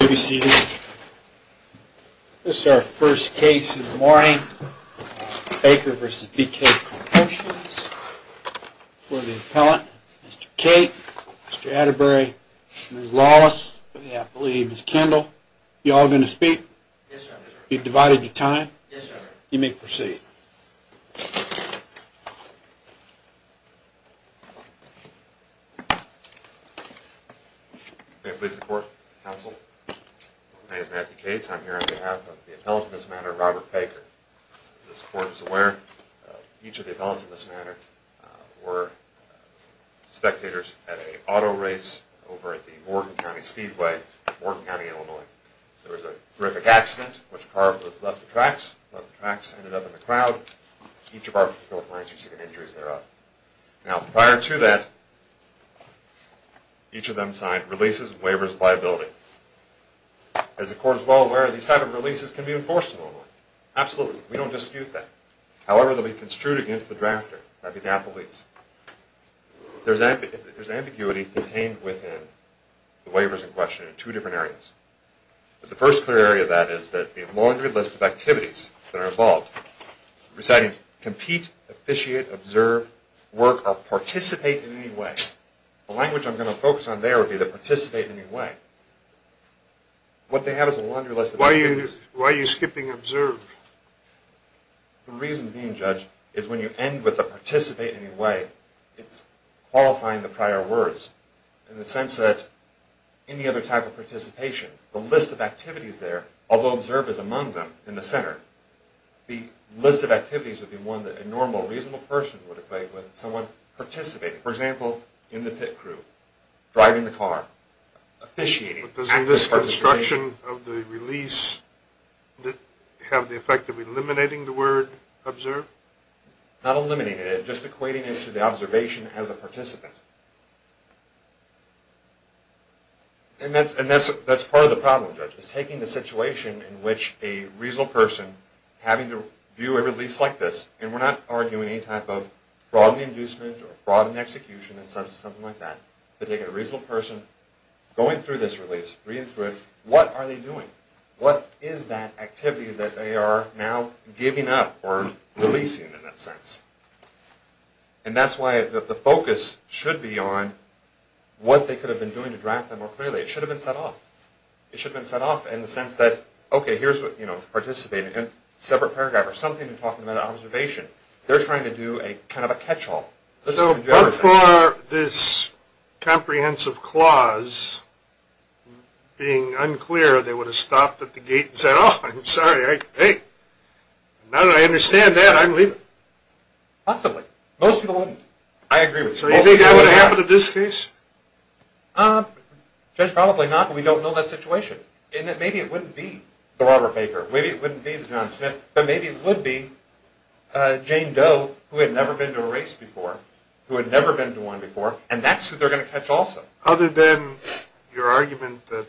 You may be seated. This is our first case in the morning. Baker v. BK Promotions for the appellant, Mr. Cate, Mr. Atterbury, Ms. Lawless, and I believe Ms. Kendall. You all going to speak? Yes, sir. You've divided your time? Yes, sir. You may proceed. May it please the court, counsel. My name is Matthew Cates. I'm here on behalf of the appellant in this matter, Robert Baker. As this court is aware, each of the appellants in this matter were spectators at an auto race over at the Wharton County Speedway in Wharton County, Illinois. There was a horrific accident, which a car left the tracks, left the tracks, ended up in the crowd. Each of our clients received injuries thereof. Now, prior to that, each of them signed releases and waivers of liability. As the court is well aware, these type of releases can be enforced in Illinois. Absolutely. We don't dispute that. However, they'll be construed against the drafter, that'd be the appellate's. There's ambiguity contained within the waivers in question in two different areas. The first clear area of that is that the laundry list of activities that are involved, reciting compete, officiate, observe, work, or participate in any way. The language I'm going to focus on there would be the participate in any way. What they have is a laundry list of activities. Why are you skipping observe? The reason being, Judge, is when you end with a participate in any way, it's qualifying the prior words in the sense that any other type of participation, the list of activities there, although observe is among them in the center, the list of activities would be one that a normal, reasonable person would equate with someone participating. For example, in the pit crew, driving the car, officiating. But doesn't this construction of the release have the effect of eliminating the word observe? Not eliminating it, just equating it to the observation as a participant. And that's part of the problem, Judge, is taking the situation in which a reasonable person having to view a release like this, and we're not arguing any type of fraud in the inducement or fraud in the execution or something like that, but taking a reasonable person going through this release, reading through it, what are they doing? What is that activity that they are now giving up or releasing in that sense? And that's why the focus should be on what they could have been doing to draft that more clearly. It should have been set off. It should have been set off in the sense that, okay, here's what, you know, participating. Separate paragraph or something talking about observation. They're trying to do a kind of a catch-all. So by far, this comprehensive clause being unclear, they would have stopped at the gate and said, oh, I'm sorry. Hey, now that I understand that, I'm leaving. Possibly. Most people wouldn't. I agree with you. So you think that would have happened in this case? Judge, probably not, but we don't know that situation. And maybe it wouldn't be the Robert Baker. Maybe it wouldn't be the John Smith. But maybe it would be Jane Doe, who had never been to a race before, who had never been to one before, and that's what they're going to catch also. Other than your argument that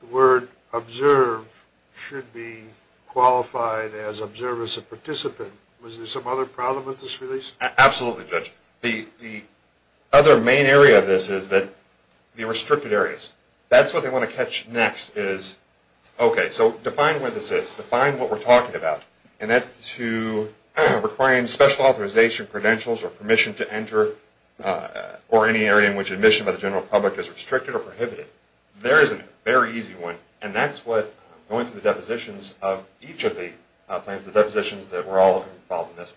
the word observe should be qualified as observe as a participant, was there some other problem with this release? Absolutely, Judge. The other main area of this is that the restricted areas. That's what they want to catch next is, okay, so define where this is. Define what we're talking about, and that's to requiring special authorization credentials or permission to enter or any area in which admission by the general public is restricted or prohibited. There is a very easy one, and that's what going through the depositions of each of the plans, the depositions that were all involved in this.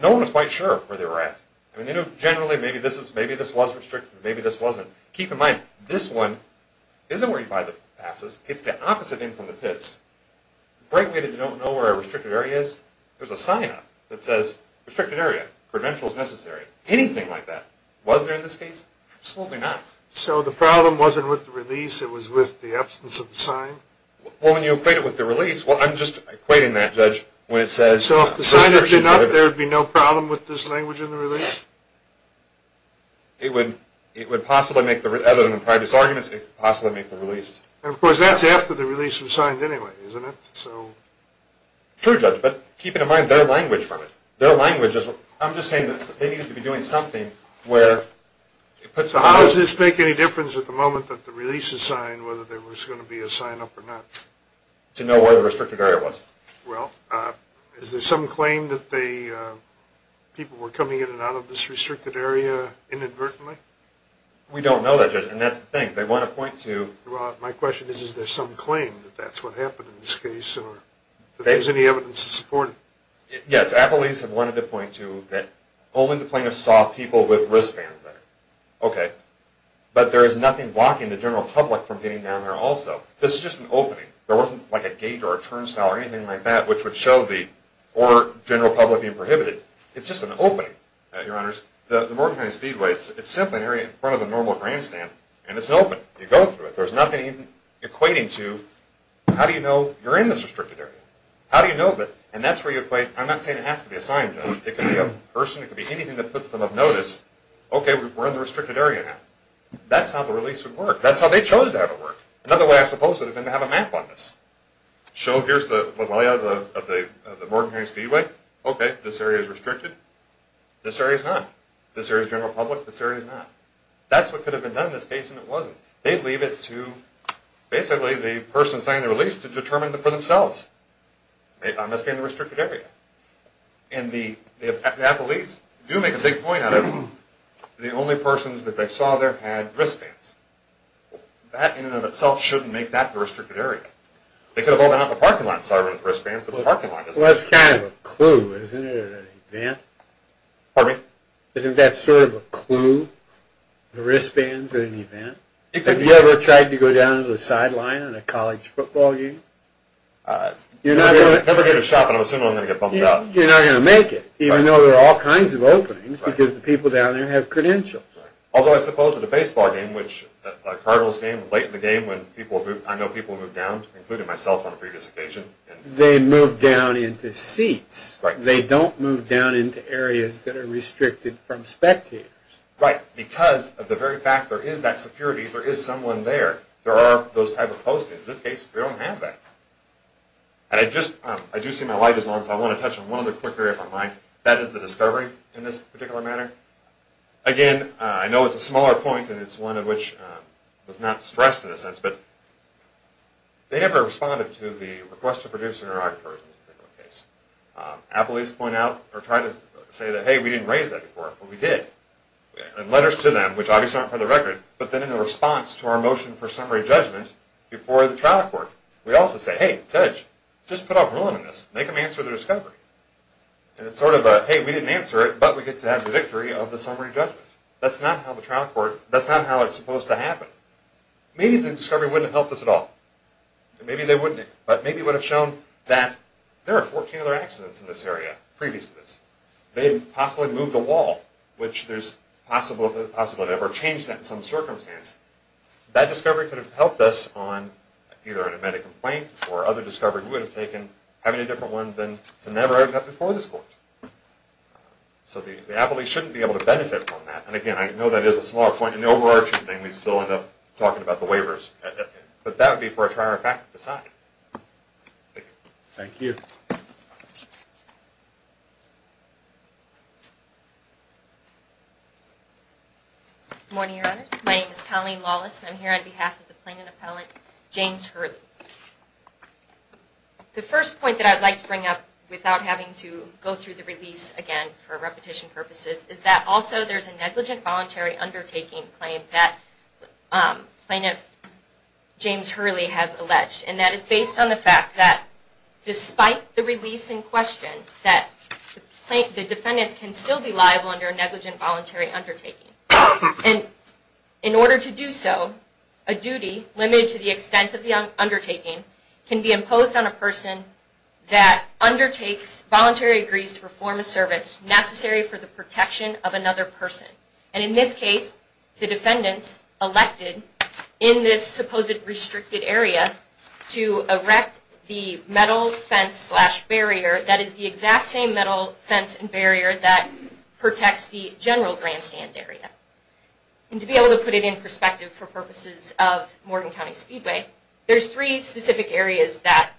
No one was quite sure where they were at. I mean, generally, maybe this was restricted, maybe this wasn't. Keep in mind, this one isn't where you buy the passes. If the opposite end from the pits, the right way to know where a restricted area is, there's a sign-up that says restricted area, credentials necessary, anything like that. Was there in this case? Absolutely not. So the problem wasn't with the release. It was with the absence of the sign? Well, when you equate it with the release, well, I'm just equating that, Judge, when it says... So if the sign had been up, there would be no problem with this language in the release? It would possibly make the... Other than the private's arguments, it could possibly make the release. And, of course, that's after the release was signed anyway, isn't it? True, Judge, but keep in mind their language from it. Their language is... I'm just saying that they needed to be doing something where it puts... So how does this make any difference at the moment that the release is signed, whether there was going to be a sign-up or not? To know where the restricted area was. Well, is there some claim that people were coming in and out of this restricted area inadvertently? We don't know that, Judge, and that's the thing. They want to point to... Well, my question is, is there some claim that that's what happened in this case or that there's any evidence to support it? Yes. Appellees have wanted to point to that only the plaintiffs saw people with wristbands there. Okay. But there is nothing blocking the general public from getting down there also. This is just an opening. There wasn't, like, a gate or a turnstile or anything like that which would show the order of the general public being prohibited. It's just an opening, Your Honors. The Morgan County Speedway, it's simply an area in front of the normal grandstand, and it's an opening. You go through it. There's nothing equating to how do you know you're in this restricted area? How do you know that? And that's where you equate... I'm not saying it has to be a sign, Judge. It could be a person. It could be anything that puts them of notice, okay, we're in the restricted area now. That's how the release would work. That's how they chose to have it work. Another way, I suppose, would have been to have a map on this. Show here's the layout of the Morgan County Speedway. Okay, this area is restricted. This area is not. This area is general public. This area is not. That's what could have been done in this case, and it wasn't. They'd leave it to basically the person signing the release to determine it for themselves. I'm asking the restricted area. And the police do make a big point out of the only persons that they saw there had wristbands. That in and of itself shouldn't make that the restricted area. They could have opened up a parking lot and started with wristbands, but the parking lot doesn't. Well, that's kind of a clue, isn't it, at an event? Pardon me? Isn't that sort of a clue, the wristbands at an event? Have you ever tried to go down to the sideline at a college football game? I've never been to a shop, and I'm assuming I'm going to get bumped up. You're not going to make it, even though there are all kinds of openings, because the people down there have credentials. Although I suppose at a baseball game, which a Cardinals game, late in the game when people move down, including myself on a previous occasion. They move down into seats. They don't move down into areas that are restricted from spectators. Right. Because of the very fact there is that security, there is someone there. There are those type of postings. In this case, we don't have that. I do see my light is on, so I want to touch on one other quick area of my mind. That is the discovery in this particular matter. Again, I know it's a smaller point, and it's one of which was not stressed in a sense, but they never responded to the request to produce an interrogatory in this particular case. Appellees point out or try to say that, hey, we didn't raise that before. Well, we did. In letters to them, which obviously aren't for the record, but then in a response to our motion for summary judgment before the trial court, we also say, hey, judge, just put a rule in this. Make them answer the discovery. And it's sort of a, hey, we didn't answer it, but we get to have the victory of the summary judgment. That's not how the trial court, that's not how it's supposed to happen. Maybe the discovery wouldn't have helped us at all. Maybe they wouldn't, but maybe it would have shown that there are 14 other accidents in this area previous to this. They possibly moved a wall, which there's a possibility of ever changing that in some circumstance. That discovery could have helped us on either an amended complaint or other discovery would have taken having a different one than to never have had before this court. So the appellee shouldn't be able to benefit from that. And, again, I know that is a small point. In the overarching thing, we'd still end up talking about the waivers. But that would be for a trier fact to decide. Thank you. Good morning, Your Honors. My name is Colleen Lawless. I'm here on behalf of the Plaintiff Appellant James Hurley. The first point that I'd like to bring up without having to go through the release again for repetition purposes is that also there's a negligent voluntary undertaking claim that Plaintiff James Hurley has alleged. And that is based on the fact that despite the release in question, that the defendants can still be liable under a negligent voluntary undertaking. And in order to do so, a duty limited to the extent of the undertaking can be imposed on a person that undertakes voluntary agrees to perform a service necessary for the protection of another person. And in this case, the defendants elected in this supposed restricted area to erect the metal fence slash barrier that is the exact same metal fence and barrier that protects the general grandstand area. And to be able to put it in perspective for purposes of Morgan County Speedway, there's three specific areas that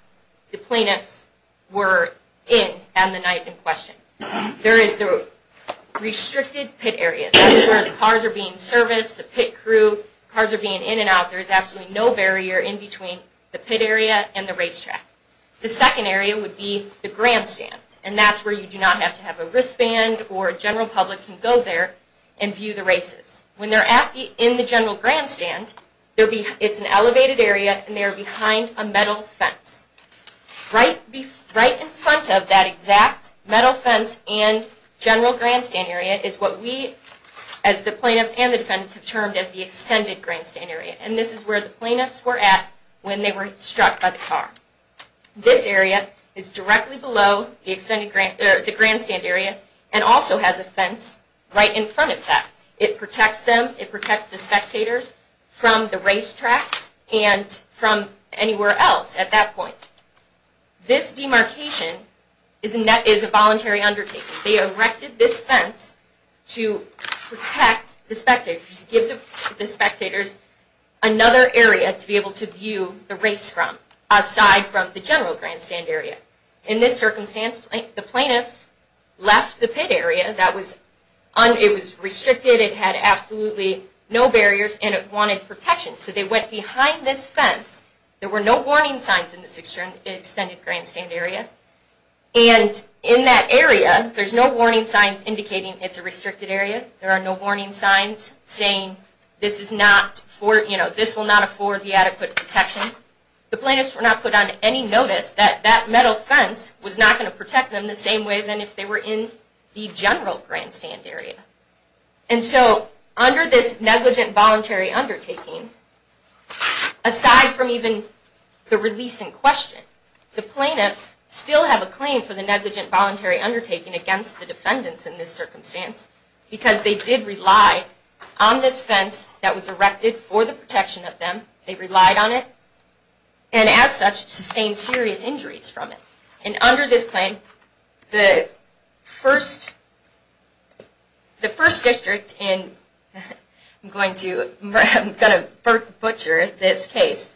the plaintiffs were in on the night in question. There is the restricted pit area. That's where the cars are being serviced, the pit crew. Cars are being in and out. There is absolutely no barrier in between the pit area and the racetrack. The second area would be the grandstand. And that's where you do not have to have a wristband or a general public can go there and view the races. When they're in the general grandstand, it's an elevated area and they're behind a metal fence. Right in front of that exact metal fence and general grandstand area is what we as the plaintiffs and the defendants have termed as the extended grandstand area. And this is where the plaintiffs were at when they were struck by the car. This area is directly below the grandstand area and also has a fence right in front of that. It protects them, it protects the spectators from the racetrack and from anywhere else at that point. This demarcation is a voluntary undertaking. They erected this fence to protect the spectators, to give the spectators another area to be able to view the race from aside from the general grandstand area. In this circumstance, the plaintiffs left the pit area. It was restricted. It had absolutely no barriers and it wanted protection. So they went behind this fence. There were no warning signs in this extended grandstand area. And in that area, there's no warning signs indicating it's a restricted area. There are no warning signs saying this will not afford the adequate protection. The plaintiffs were not put on any notice that that metal fence was not going to protect them the same way as if they were in the general grandstand area. And so under this negligent voluntary undertaking, aside from even the release in question, the plaintiffs still have a claim for the negligent voluntary undertaking against the defendants in this circumstance because they did rely on this fence that was erected for the protection of them. They relied on it and as such sustained serious injuries from it. And under this claim, the first district in, I'm going to butcher this case,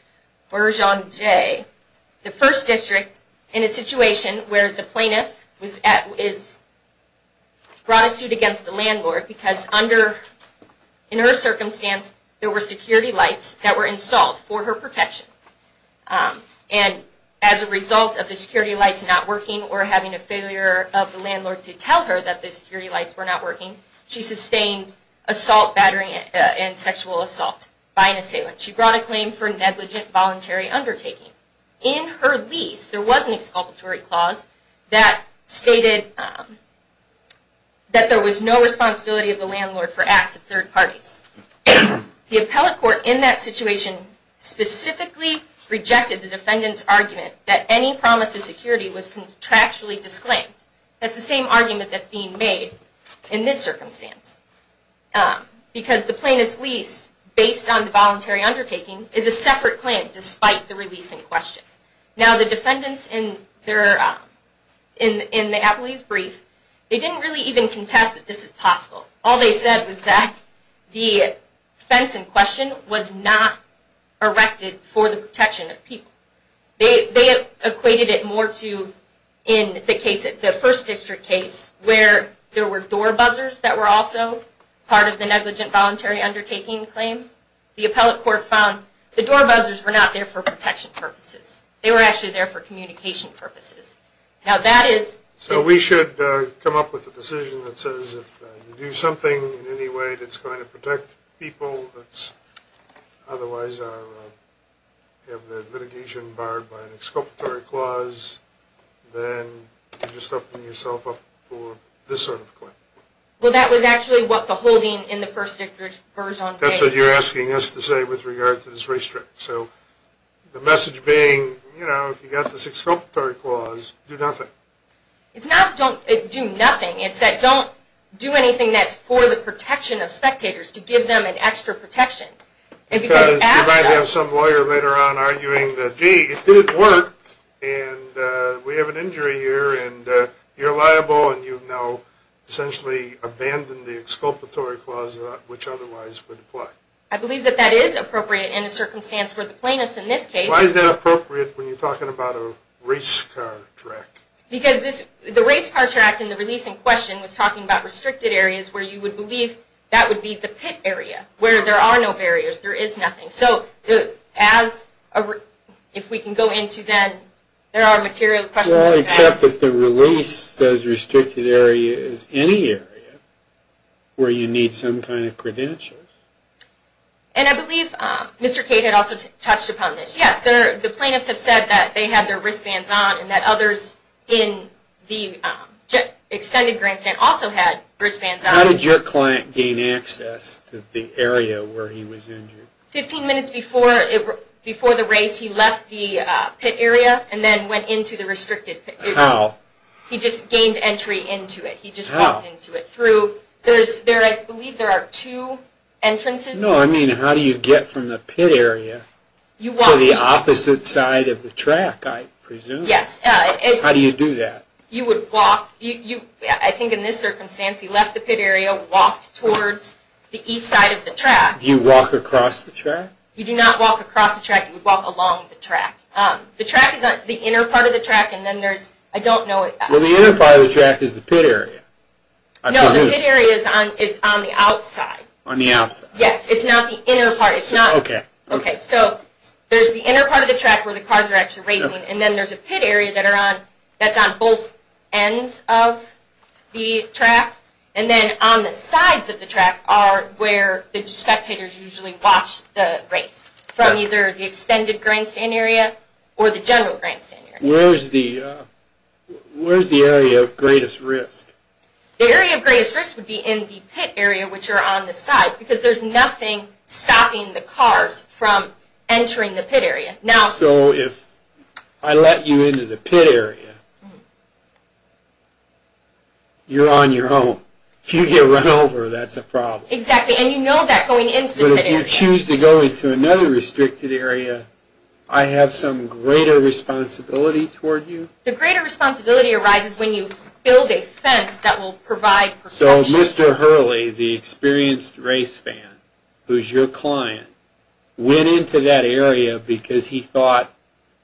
Bergeon J, the first district in a situation where the plaintiff was brought to suit against the landlord because under, in her circumstance, there were security lights that were installed for her protection. And as a result of the security lights not working or having a failure of the landlord to tell her that the security lights were not working, she sustained assault, battering, and sexual assault by an assailant. She brought a claim for negligent voluntary undertaking. In her lease, there was an exculpatory clause that stated that there was no responsibility of the landlord for acts of third parties. The appellate court in that situation specifically rejected the defendant's argument that any promise of security was contractually disclaimed. That's the same argument that's being made in this circumstance because the plaintiff's lease, based on the voluntary undertaking, is a separate claim despite the release in question. Now the defendants in the appellee's brief, they didn't really even contest that this is possible. All they said was that the defense in question was not erected for the protection of people. They equated it more to, in the first district case, where there were door buzzers that were also part of the negligent voluntary undertaking claim. The appellate court found the door buzzers were not there for protection purposes. They were actually there for communication purposes. Now that is... So we should come up with a decision that says if you do something in any way that's going to protect people that's otherwise have their litigation barred by an exculpatory clause, then you're just opening yourself up for this sort of claim. Well, that was actually what the holding in the first district... That's what you're asking us to say with regard to this restrict. So the message being, you know, if you got the exculpatory clause, do nothing. It's not don't do nothing. It's that don't do anything that's for the protection of spectators to give them an extra protection. Because you might have some lawyer later on arguing that, gee, it didn't work, and we have an injury here, and you're liable, and you've now essentially abandoned the exculpatory clause which otherwise would apply. I believe that that is appropriate in the circumstance for the plaintiffs in this case. Why is that appropriate when you're talking about a race car track? Because the race car track in the release in question was talking about restricted areas where you would believe that would be the pit area where there are no barriers. There is nothing. So if we can go into that, there are material questions about that. Well, except that the release says restricted area is any area where you need some kind of credentials. And I believe Mr. Cade had also touched upon this. Yes, the plaintiffs have said that they had their wristbands on and that others in the extended grand stand also had wristbands on. How did your client gain access to the area where he was injured? Fifteen minutes before the race, he left the pit area and then went into the restricted area. How? He just gained entry into it. He just walked into it. How? Through, I believe there are two entrances. No, I mean how do you get from the pit area to the opposite side of the track, I presume. Yes. How do you do that? You would walk, I think in this circumstance, he left the pit area, walked towards the east side of the track. Do you walk across the track? You do not walk across the track. You would walk along the track. The track is the inner part of the track and then there's, I don't know. Well, the inner part of the track is the pit area, I presume. No, the pit area is on the outside. On the outside. Yes, it's not the inner part. Okay. Okay, so there's the inner part of the track where the cars are actually racing and then there's a pit area that's on both ends of the track and then on the sides of the track are where the spectators usually watch the race from either the extended grandstand area or the general grandstand area. Where is the area of greatest risk? The area of greatest risk would be in the pit area which are on the sides because there's nothing stopping the cars from entering the pit area. So if I let you into the pit area, you're on your own. If you get run over, that's a problem. Exactly, and you know that going into the pit area. But if you choose to go into another restricted area, I have some greater responsibility toward you? The greater responsibility arises when you build a fence that will provide protection. So Mr. Hurley, the experienced race fan who's your client, went into that area because he thought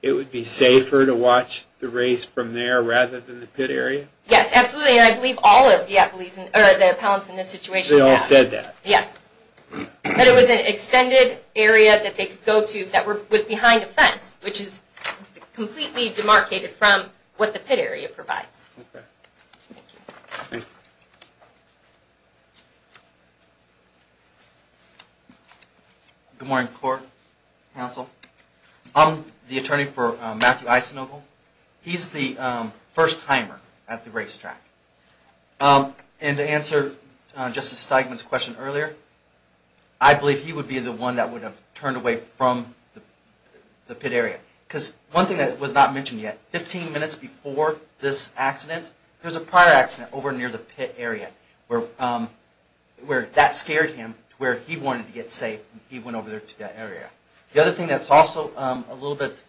it would be safer to watch the race from there rather than the pit area? Yes, absolutely, and I believe all of the appellants in this situation have. They all said that? Yes. But it was an extended area that they could go to that was behind a fence which is completely demarcated from what the pit area provides. Okay. Thank you. Thank you. Good morning, court, counsel. I'm the attorney for Matthew Eisenogle. He's the first timer at the racetrack. And to answer Justice Steigman's question earlier, I believe he would be the one that would have turned away from the pit area. Because one thing that was not mentioned yet, 15 minutes before this accident, there was a prior accident over near the pit area where that scared him to where he wanted to get safe and he went over there to that area. The other thing that's also a little bit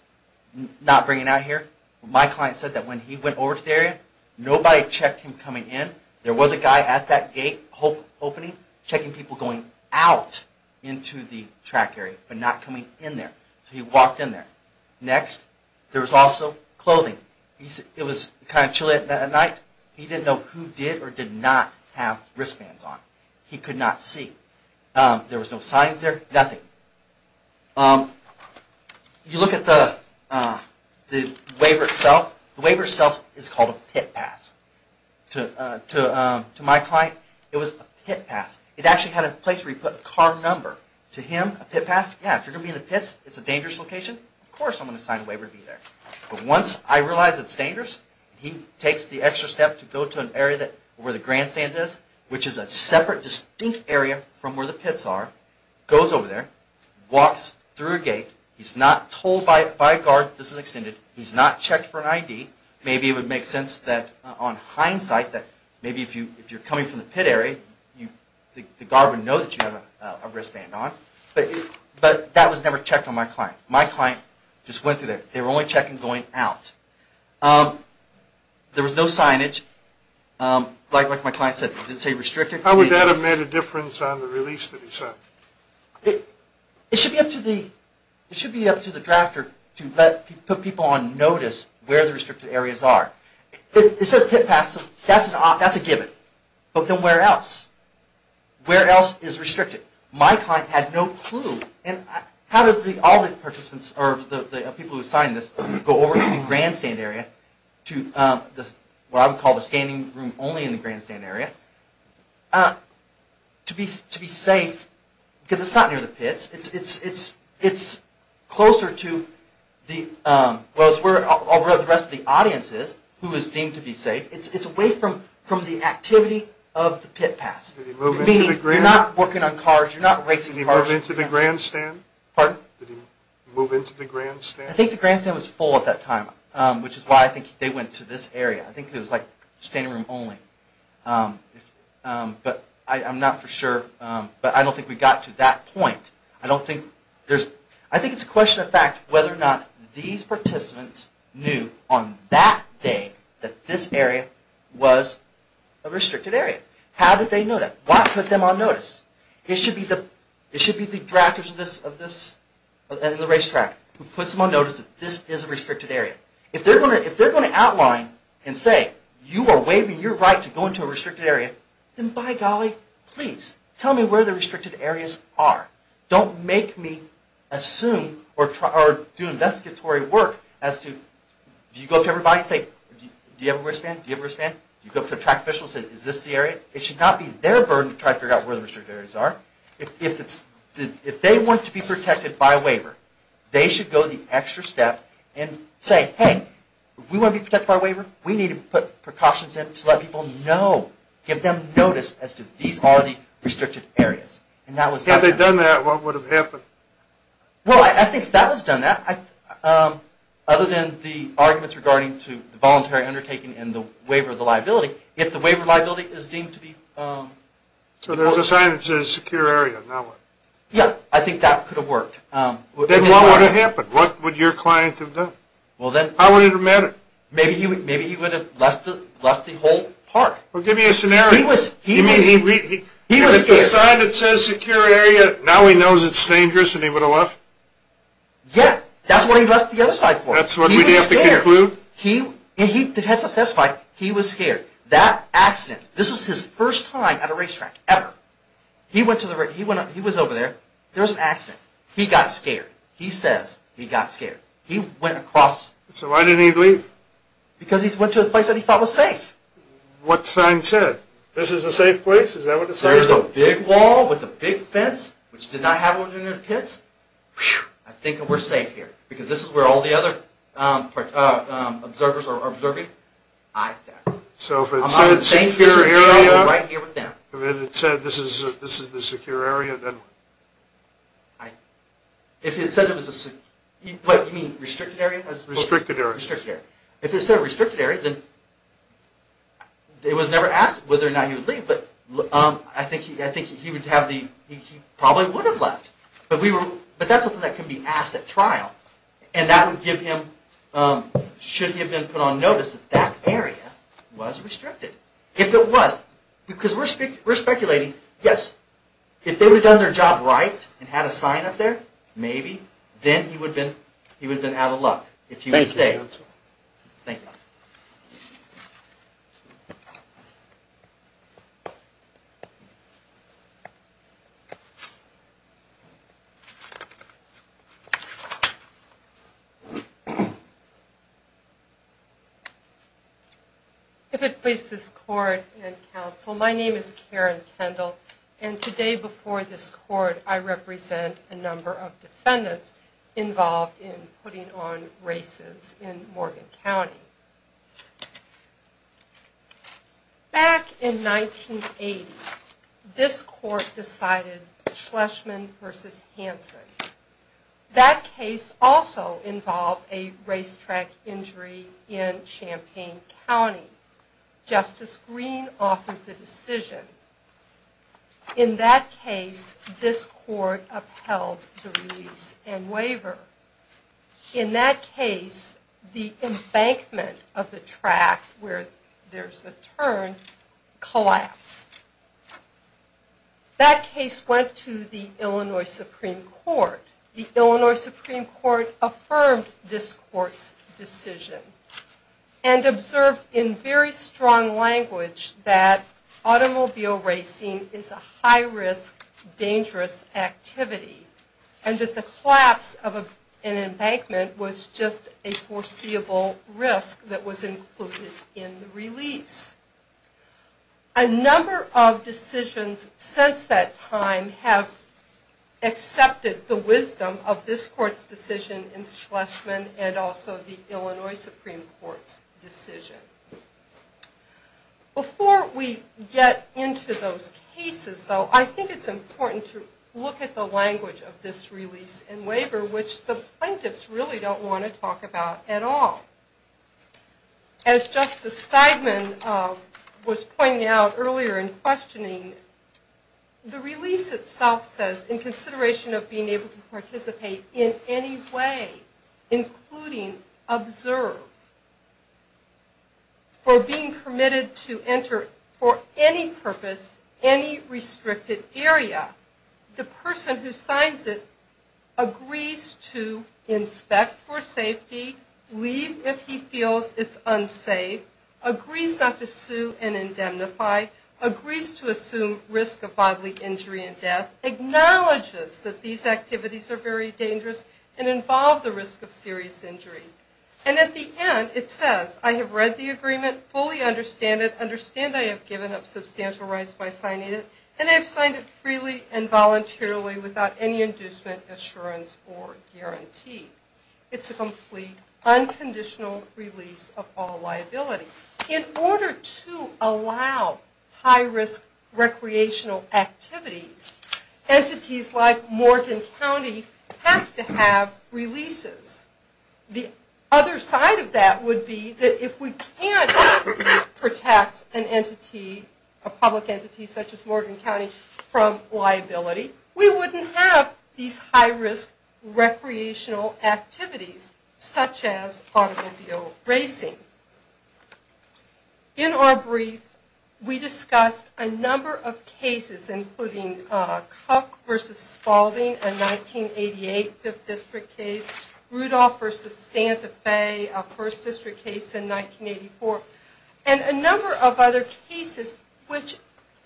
not bringing out here, my client said that when he went over to the area, nobody checked him coming in. There was a guy at that gate opening checking people going out into the track area but not coming in there. So he walked in there. Next, there was also clothing. It was kind of chilly at night. He didn't know who did or did not have wristbands on. He could not see. There was no signs there, nothing. You look at the waiver itself. The waiver itself is called a pit pass. To my client, it was a pit pass. It actually had a place where he put a car number. To him, a pit pass, yeah, if you're going to be in the pits, it's a dangerous location, of course I'm going to sign a waiver to be there. But once I realize it's dangerous, he takes the extra step to go to an area where the grandstand is, which is a separate, distinct area from where the pits are, goes over there, walks through a gate. He's not told by a guard this is extended. He's not checked for an ID. Maybe it would make sense that on hindsight that maybe if you're coming from the pit area, the guard would know that you have a wristband on. But that was never checked on my client. My client just went through there. They were only checking going out. There was no signage. Like my client said, it didn't say restricted. How would that have made a difference on the release that he sent? It should be up to the drafter to put people on notice where the restricted areas are. It says pit pass, that's a given. But then where else? Where else is restricted? My client had no clue. How did all the people who signed this go over to the grandstand area, what I would call the standing room only in the grandstand area, to be safe? Because it's not near the pits. It's closer to where the rest of the audience is who is deemed to be safe. It's away from the activity of the pit pass. You're not working on cars, you're not racing cars. Did he move into the grandstand? Pardon? Did he move into the grandstand? I think the grandstand was full at that time, which is why I think they went to this area. I think it was like standing room only. But I'm not for sure. But I don't think we got to that point. I think it's a question of fact whether or not these participants knew on that day that this area was a restricted area. How did they know that? Why put them on notice? It should be the drafters of the racetrack who puts them on notice that this is a restricted area. If they're going to outline and say, you are waiving your right to go into a restricted area, then by golly, please tell me where the restricted areas are. Don't make me assume or do investigatory work as to, do you go up to everybody and say, do you have a wristband? Do you have a wristband? Do you go up to track officials and say, is this the area? It should not be their burden to try to figure out where the restricted areas are. If they want to be protected by a waiver, they should go the extra step and say, hey, if we want to be protected by a waiver, we need to put precautions in to let people know, give them notice as to these are the restricted areas. Had they done that, what would have happened? Well, I think if that was done, other than the arguments regarding to the voluntary undertaking and the waiver of the liability, if the waiver of the liability is deemed to be important. So there's a sign that says secure area, now what? Yeah, I think that could have worked. Then what would have happened? What would your client have done? How would it have mattered? Maybe he would have left the whole park. Well, give me a scenario. He was scared. The sign that says secure area, now he knows it's dangerous and he would have left? Yeah, that's what he left the other side for. That's what we'd have to conclude? He had testified he was scared. That accident, this was his first time at a racetrack ever. He was over there. There was an accident. He got scared. He says he got scared. He went across. So why didn't he leave? Because he went to a place that he thought was safe. What sign said? This is a safe place? Is that what the sign said? There's a big wall with a big fence, which did not have one in the pits. I think we're safe here because this is where all the other observers are observing. So if it said secure area, and then it said this is the secure area, then? If it said it was a, what, you mean restricted area? Restricted area. Restricted area. If it said restricted area, it was never asked whether or not he would leave, but I think he probably would have left. But that's something that can be asked at trial, and that would give him, should he have been put on notice, that that area was restricted. If it was, because we're speculating, yes, if they would have done their job right and had a sign up there, maybe, then he would have been out of luck if he would have stayed. Thank you. Thank you. If it please this court and counsel, my name is Karen Kendall, and today before this court, I represent a number of defendants involved in putting on races in Morgan County. Back in 1980, this court decided Schlesman v. Hanson. That case also involved a racetrack injury in Champaign County. Justice Greene authored the decision. In that case, this court upheld the release and waiver. In that case, the embankment of the track where there's a turn collapsed. That case went to the Illinois Supreme Court. The Illinois Supreme Court affirmed this court's decision and observed in very strong language that automobile racing is a high-risk, dangerous activity and that the collapse of an embankment was just a foreseeable risk that was included in the release. A number of decisions since that time have accepted the wisdom of this court's decision in Schlesman and also the Illinois Supreme Court's decision. Before we get into those cases, though, I think it's important to look at the language of this release and waiver, which the plaintiffs really don't want to talk about at all. As Justice Steigman was pointing out earlier in questioning, the release itself says, in consideration of being able to participate in any way, including observe, or being permitted to enter for any purpose any restricted area, the person who signs it agrees to inspect for safety, leave if he feels it's unsafe, agrees not to sue and indemnify, agrees to assume risk of bodily injury and death, acknowledges that these activities are very dangerous and involve the risk of serious injury. And at the end, it says, I have read the agreement, fully understand it, understand I have given up substantial rights by signing it, and I have signed it freely and voluntarily without any inducement, assurance, or guarantee. It's a complete, unconditional release of all liability. In order to allow high-risk recreational activities, entities like Morgan County have to have releases. The other side of that would be that if we can't protect an entity, a public entity such as Morgan County, from liability, we wouldn't have these high-risk recreational activities, such as automobile racing. In our brief, we discussed a number of cases, including Cook v. Spalding, a 1988 5th District case, Rudolph v. Santa Fe, a 1st District case in 1984, and a number of other cases which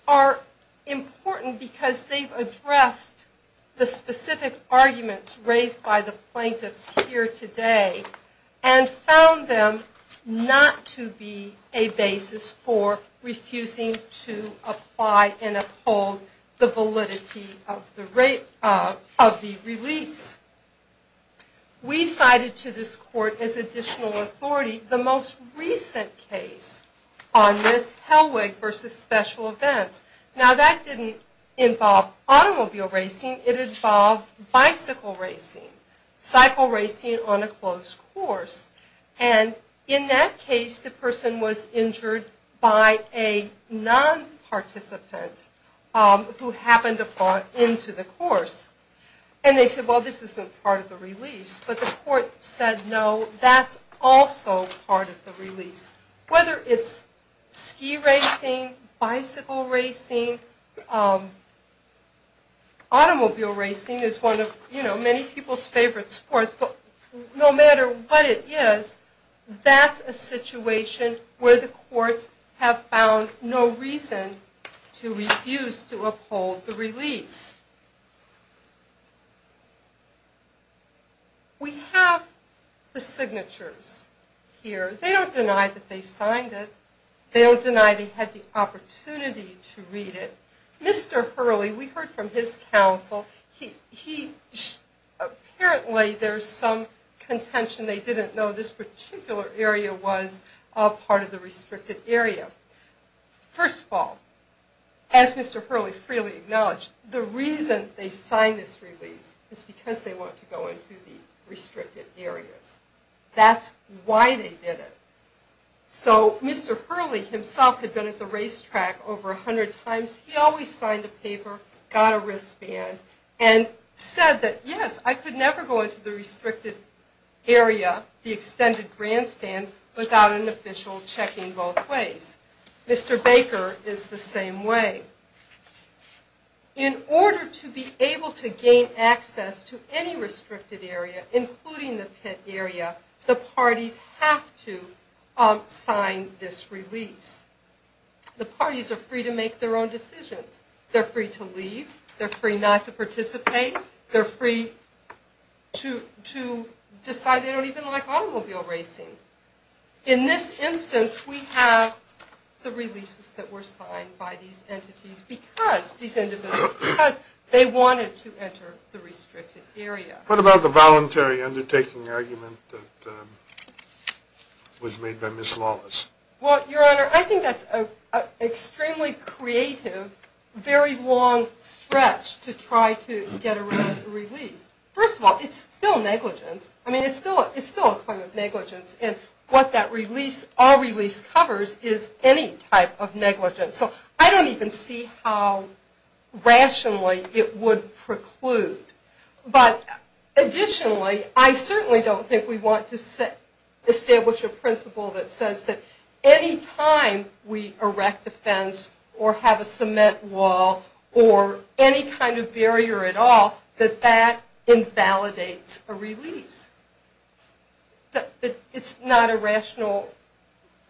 are important because they've addressed the specific arguments raised by the plaintiffs here today and found them not to be a basis for refusing to apply and uphold the validity of the release. We cited to this court as additional authority the most recent case on this, Hellwig v. Special Events. Now, that didn't involve automobile racing. It involved bicycle racing, cycle racing on a closed course. And in that case, the person was injured by a non-participant who happened to fall into the course. And they said, well, this isn't part of the release. But the court said, no, that's also part of the release. Whether it's ski racing, bicycle racing, automobile racing is one of many people's favorite sports. But no matter what it is, that's a situation where the courts have found no reason to refuse to uphold the release. We have the signatures here. They don't deny that they signed it. They don't deny they had the opportunity to read it. Mr. Hurley, we heard from his counsel, apparently there's some contention they didn't know this particular area was part of the restricted area. First of all, as Mr. Hurley freely acknowledged, the reason they signed this release is because they want to go into the restricted areas. That's why they did it. So Mr. Hurley himself had been at the racetrack over 100 times. He always signed a paper, got a wristband, and said that, yes, I could never go into the restricted area, the extended grandstand, without an official checking both ways. Mr. Baker is the same way. In order to be able to gain access to any restricted area, including the pit area, the parties have to sign this release. The parties are free to make their own decisions. They're free to leave. They're free not to participate. They're free to decide they don't even like automobile racing. In this instance, we have the releases that were signed by these entities, these individuals, because they wanted to enter the restricted area. What about the voluntary undertaking argument that was made by Ms. Lawless? Well, Your Honor, I think that's an extremely creative, very long stretch to try to get around a release. First of all, it's still negligence. I mean, it's still a claim of negligence. And what that release, our release, covers is any type of negligence. So I don't even see how rationally it would preclude. But additionally, I certainly don't think we want to establish a principle that says that any time we erect a fence or have a cement wall or any kind of barrier at all, that that invalidates a release. It's not a rational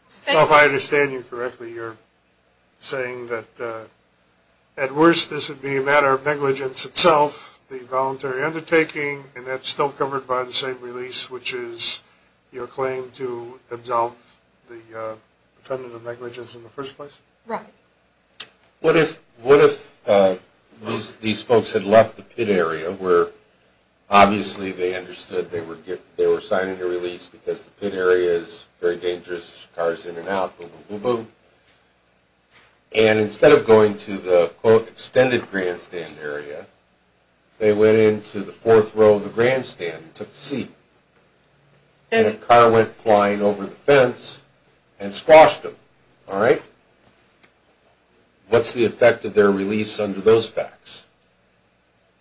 statement. So if I understand you correctly, you're saying that at worst, this would be a matter of negligence itself, the voluntary undertaking, and that's still covered by the same release, which is your claim to absolve the defendant of negligence in the first place? Right. What if these folks had left the pit area where, obviously, they understood they were signing a release because the pit area is very dangerous, cars in and out, boom, boom, boom, boom. And instead of going to the, quote, extended grandstand area, they went into the fourth row of the grandstand and took a seat. And a car went flying over the fence and squashed them, all right? What's the effect of their release under those facts?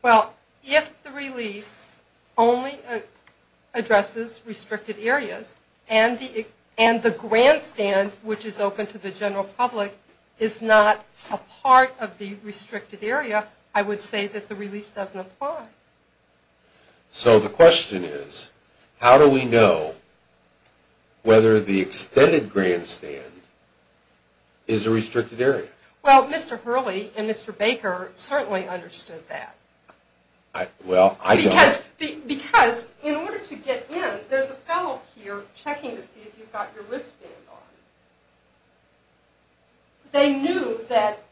Well, if the release only addresses restricted areas and the grandstand, which is open to the general public, is not a part of the restricted area, I would say that the release doesn't apply. So the question is, how do we know whether the extended grandstand is a restricted area? Well, Mr. Hurley and Mr. Baker certainly understood that. Well, I don't. Because in order to get in, there's a fellow here checking to see if you've got your wristband on. They knew that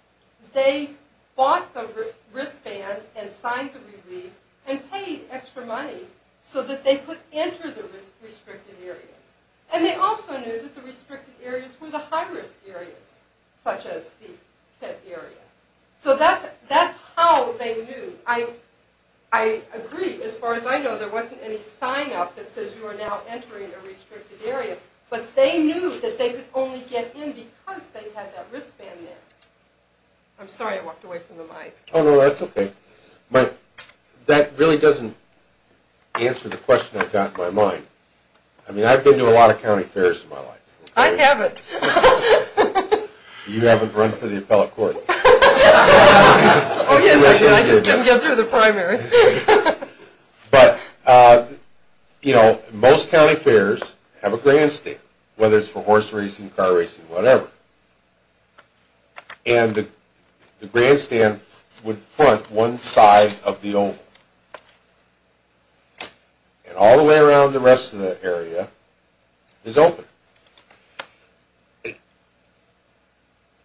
they bought the wristband and signed the release and paid extra money so that they could enter the restricted areas. And they also knew that the restricted areas were the high-risk areas, such as the pit area. So that's how they knew. I agree, as far as I know, there wasn't any sign-up that says you are now entering a restricted area. But they knew that they could only get in because they had that wristband there. I'm sorry, I walked away from the mic. Oh, no, that's okay. But that really doesn't answer the question I've got in my mind. I mean, I've been to a lot of county fairs in my life. I haven't. You haven't run for the appellate court. Oh, yes, I did. I just didn't get through the primary. But, you know, most county fairs have a grandstand, whether it's for horse racing, car racing, whatever. And the grandstand would front one side of the oval. And all the way around the rest of the area is open.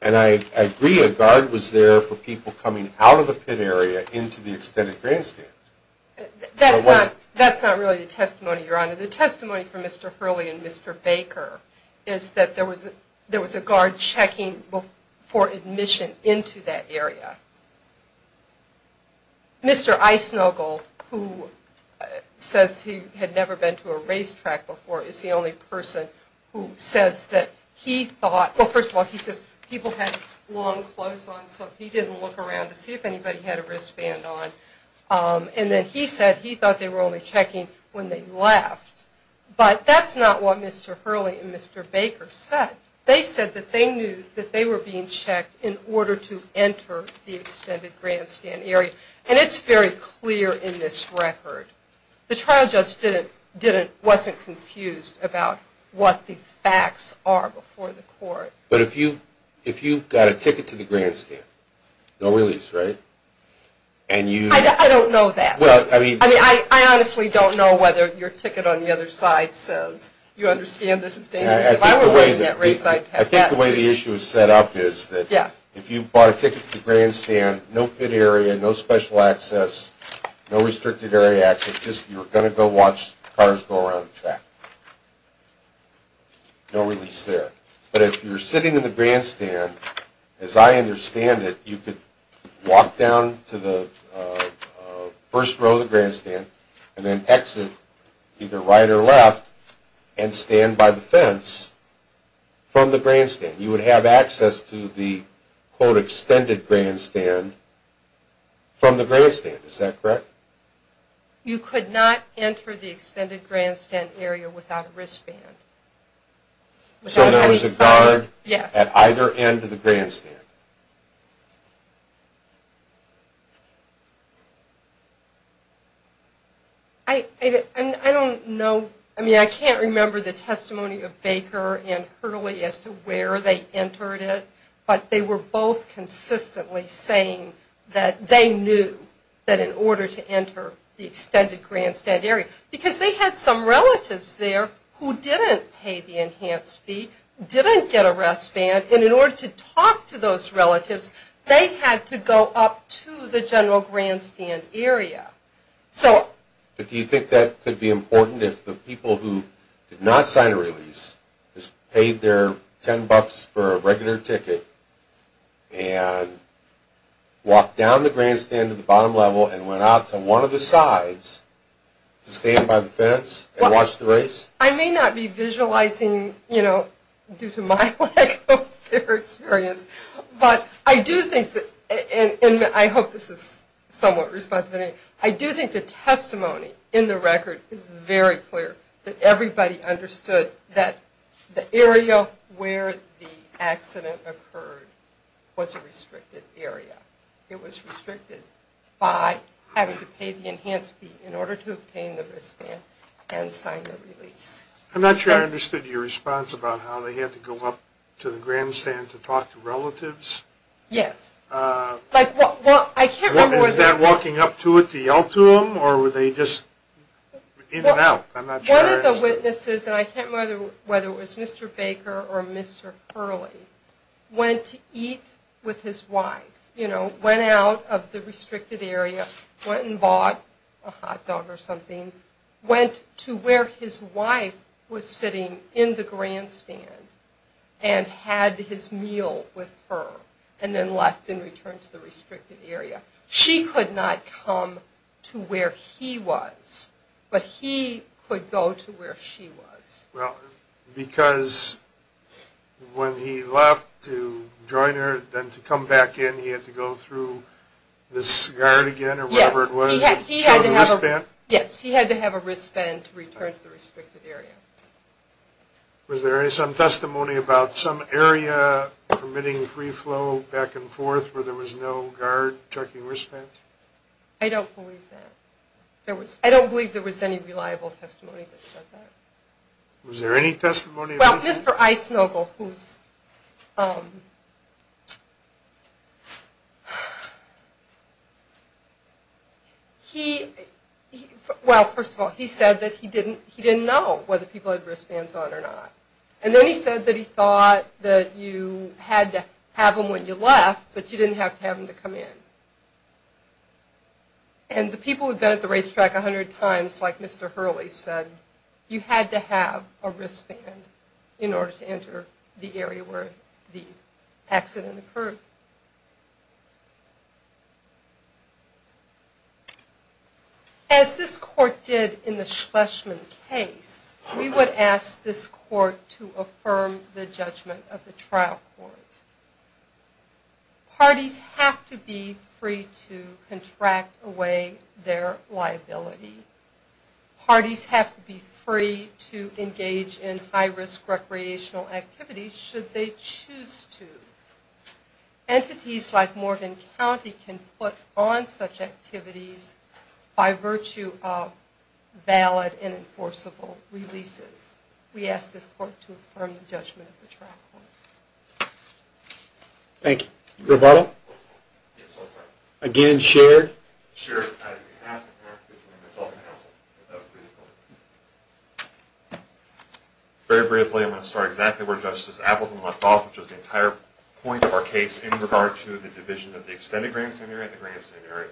And I agree a guard was there for people coming out of the pit area into the extended grandstand. That's not really the testimony, Your Honor. The testimony from Mr. Hurley and Mr. Baker is that there was a guard checking for admission into that area. Mr. Eisenogle, who says he had never been to a racetrack before, is the only person who says that he thought, well, first of all, he says people had long clothes on, so he didn't look around to see if anybody had a wristband on. And then he said he thought they were only checking when they left. But that's not what Mr. Hurley and Mr. Baker said. They said that they knew that they were being checked in order to enter the extended grandstand area. And it's very clear in this record. The trial judge wasn't confused about what the facts are before the court. But if you got a ticket to the grandstand, no release, right? I don't know that. I mean, I honestly don't know whether your ticket on the other side says you understand this is dangerous. I think the way the issue is set up is that if you bought a ticket to the grandstand, no pit area, no special access, no restricted area access, just you're going to go watch cars go around the track. No release there. But if you're sitting in the grandstand, as I understand it, you could walk down to the first row of the grandstand and then exit either right or left and stand by the fence from the grandstand. You would have access to the, quote, extended grandstand from the grandstand. Is that correct? You could not enter the extended grandstand area without a wristband. So there was a guard at either end of the grandstand. I don't know. I mean, I can't remember the testimony of Baker and Hurley as to where they entered it, but they were both consistently saying that they knew that in order to enter the extended grandstand area. Because they had some relatives there who didn't pay the enhanced fee, didn't get a wristband, and in order to talk to those relatives, they had to go up to the general grandstand area. But do you think that could be important if the people who did not sign a release paid their $10 for a regular ticket and walked down the grandstand to the bottom level and went out to one of the sides to stand by the fence and watch the race? I may not be visualizing, you know, due to my lack of experience, but I do think that, and I hope this is somewhat responsive, I do think the testimony in the record is very clear that everybody understood that the area where the accident occurred was a restricted area. It was restricted by having to pay the enhanced fee in order to obtain the wristband and sign the release. I'm not sure I understood your response about how they had to go up to the grandstand to talk to relatives. Yes. Is that walking up to it to yell to them, or were they just in and out? One of the witnesses, and I can't remember whether it was Mr. Baker or Mr. Hurley, went to eat with his wife, you know, went out of the restricted area, went and bought a hot dog or something, went to where his wife was sitting in the grandstand and had his meal with her, and then left and returned to the restricted area. She could not come to where he was, but he could go to where she was. Well, because when he left to join her, then to come back in he had to go through this guard again or whatever it was? Yes, he had to have a wristband to return to the restricted area. Was there some testimony about some area permitting free flow back and forth where there was no guard chucking wristbands? I don't believe that. I don't believe there was any reliable testimony that said that. Was there any testimony? Well, Mr. Eisnogel, he, well, first of all, he said that he didn't know whether people had wristbands on or not. And then he said that he thought that you had to have them when you left, but you didn't have to have them to come in. And the people who had been at the racetrack a hundred times, like Mr. Hurley said, you had to have a wristband in order to enter the area where the accident occurred. As this court did in the Schlesman case, we would ask this court to affirm the judgment of the trial court. Parties have to be free to contract away their liability. Parties have to be free to engage in high-risk recreational activities should they choose to. Entities like Morgan County can put on such activities by virtue of valid and enforceable releases. We ask this court to affirm the judgment of the trial court. Thank you. Rebuttal? Yes, I'll start. Again, shared? Shared, on behalf of the board, myself, and counsel. Very briefly, I'm going to start exactly where Justice Appleton left off, which was the entire point of our case in regard to the division of the extended grandstand area and the grandstand area.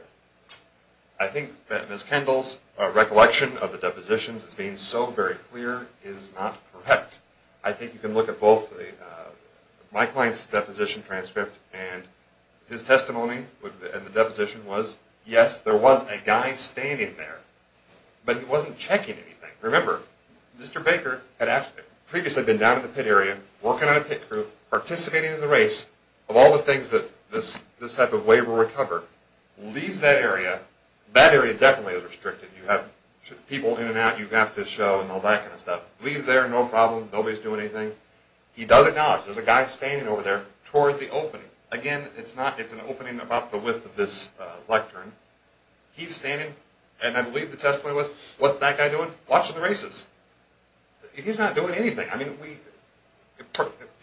I think that Ms. Kendall's recollection of the depositions as being so very clear is not correct. I think you can look at both my client's deposition transcript and his testimony, and the deposition was, yes, there was a guy standing there, but he wasn't checking anything. Remember, Mr. Baker had previously been down in the pit area, working on a pit crew, participating in the race, of all the things that this type of way will recover, leaves that area. That area definitely is restricted. You have people in and out you have to show and all that kind of stuff. Leaves there, no problem, nobody's doing anything. He does acknowledge there's a guy standing over there toward the opening. Again, it's an opening about the width of this lectern. He's standing, and I believe the testimony was, what's that guy doing? Watching the races. He's not doing anything.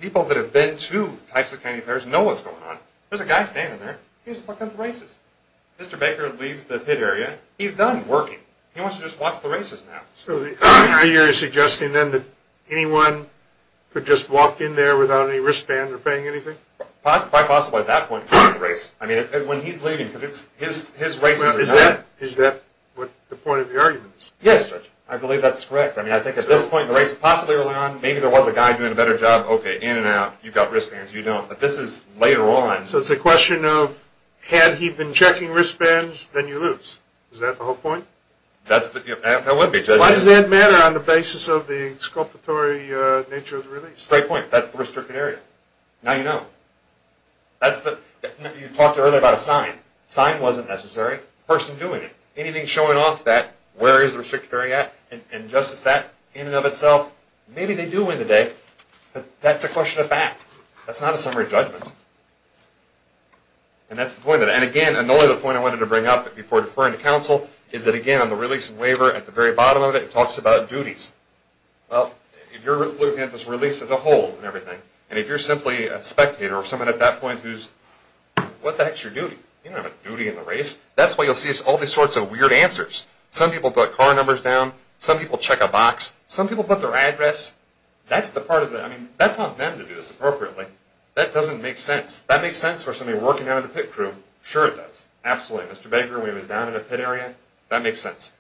People that have been to Tyson County Fair know what's going on. There's a guy standing there. He's fucking with the races. Mr. Baker leaves the pit area. He's done working. He wants to just watch the races now. So you're suggesting then that anyone could just walk in there without any wristband or paying anything? Quite possibly at that point. I mean, when he's leaving, because his races are done. Is that the point of the argument? Yes, Judge. I believe that's correct. I mean, I think at this point in the race, possibly early on, maybe there was a guy doing a better job. Okay, in and out, you've got wristbands, you don't. But this is later on. So it's a question of, had he been checking wristbands, then you lose. Is that the whole point? That would be, Judge. Why does that matter on the basis of the exculpatory nature of the release? Great point. That's the restricted area. Now you know. You talked earlier about a sign. Sign wasn't necessary. Person doing it. Anything showing off that, where is the restricted area at? And just as that, in and of itself, maybe they do win the day. But that's a question of fact. That's not a summary judgment. And that's the point of it. And again, and the only other point I wanted to bring up before deferring to counsel, is that again, on the release and waiver, at the very bottom of it, it talks about duties. Well, if you're looking at this release as a whole and everything, and if you're simply a spectator or someone at that point who's, what the heck's your duty? You don't have a duty in the race. That's why you'll see all these sorts of weird answers. Some people put car numbers down. Some people check a box. Some people put their address. That's the part of it. I mean, that's not them to do this appropriately. That doesn't make sense. That makes sense for somebody working out of the pit crew. Sure it does. Absolutely. Mr. Baker, when he was down in a pit area, that makes sense.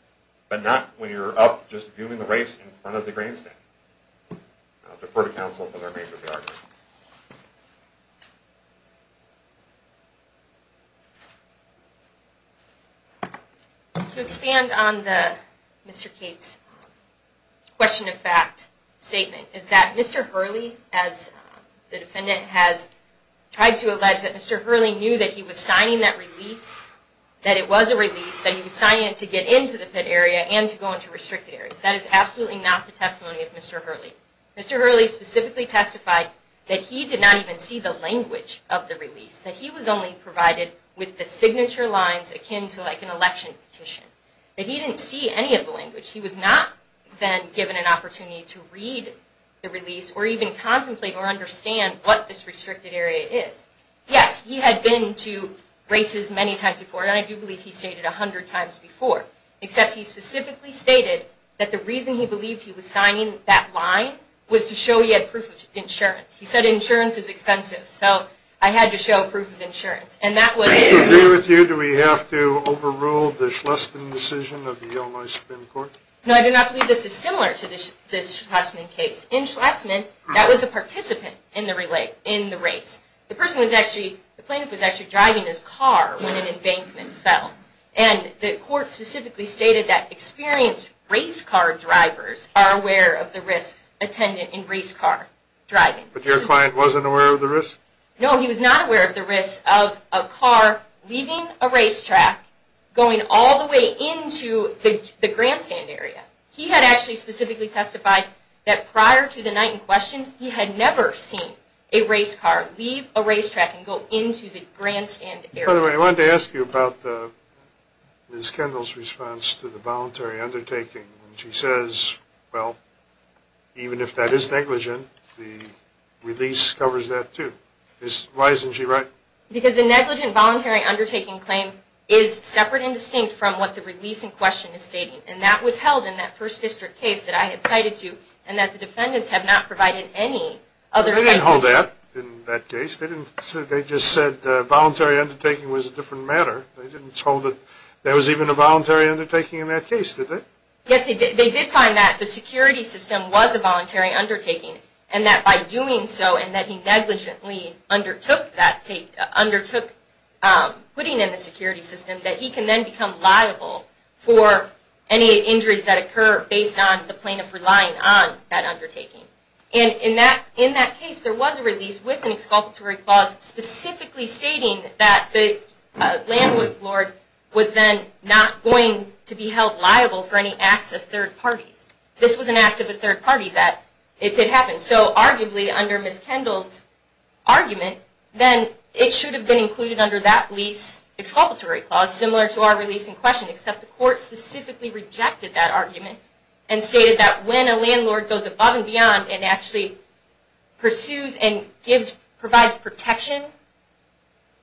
But not when you're up just viewing the race in front of the grandstand. I'll defer to counsel for their major geography. To expand on Mr. Cates' question of fact statement, is that Mr. Hurley, as the defendant has tried to allege, that Mr. Hurley knew that he was signing that release, that it was a release, that he was signing it to get into the pit area and to go into restricted areas. That is absolutely not the testimony of Mr. Hurley. Mr. Hurley specifically testified that he did not even see the language of the release, that he was only provided with the signature lines akin to like an election petition. That he didn't see any of the language. He was not then given an opportunity to read the release or even contemplate or understand what this restricted area is. Yes, he had been to races many times before, and I do believe he stated 100 times before, except he specifically stated that the reason he believed he was signing that line was to show he had proof of insurance. He said insurance is expensive, so I had to show proof of insurance. To agree with you, do we have to overrule the Schlesman decision of the Illinois Supreme Court? No, I do not believe this is similar to the Schlesman case. In Schlesman, that was a participant in the race. The plaintiff was actually driving his car when an embankment fell. And the court specifically stated that experienced race car drivers are aware of the risks attended in race car driving. But your client wasn't aware of the risks? No, he was not aware of the risks of a car leaving a racetrack, going all the way into the grandstand area. He had actually specifically testified that prior to the night in question, he had never seen a race car leave a racetrack and go into the grandstand area. By the way, I wanted to ask you about Ms. Kendall's response to the voluntary undertaking. She says, well, even if that is negligent, the release covers that too. Why isn't she right? Because the negligent voluntary undertaking claim is separate and distinct from what the release in question is stating. And that was held in that First District case that I had cited to and that the defendants have not provided any other... They didn't hold that in that case. They just said voluntary undertaking was a different matter. They didn't hold that there was even a voluntary undertaking in that case, did they? Yes, they did find that the security system was a voluntary undertaking, and that by doing so and that he negligently undertook putting in the security system, that he can then become liable for any injuries that occur based on the plaintiff relying on that undertaking. And in that case, there was a release with an exculpatory clause specifically stating that the landlord was then not going to be held liable for any acts of third parties. This was an act of a third party that it did happen. So arguably, under Ms. Kendall's argument, then it should have been included under that lease exculpatory clause, similar to our release in question, except the court specifically rejected that argument and stated that when a landlord goes above and beyond and actually pursues and provides protection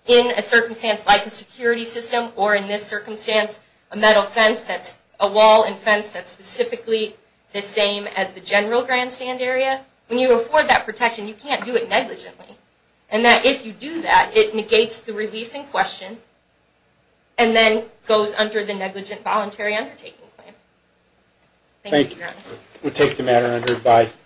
in a circumstance like a security system or in this circumstance, a metal fence that's a wall and fence that's specifically the same as the general grandstand area, when you afford that protection, you can't do it negligently. And that if you do that, it negates the release in question and then goes under the negligent voluntary undertaking claim. Thank you, Your Honor. We take the matter under advice.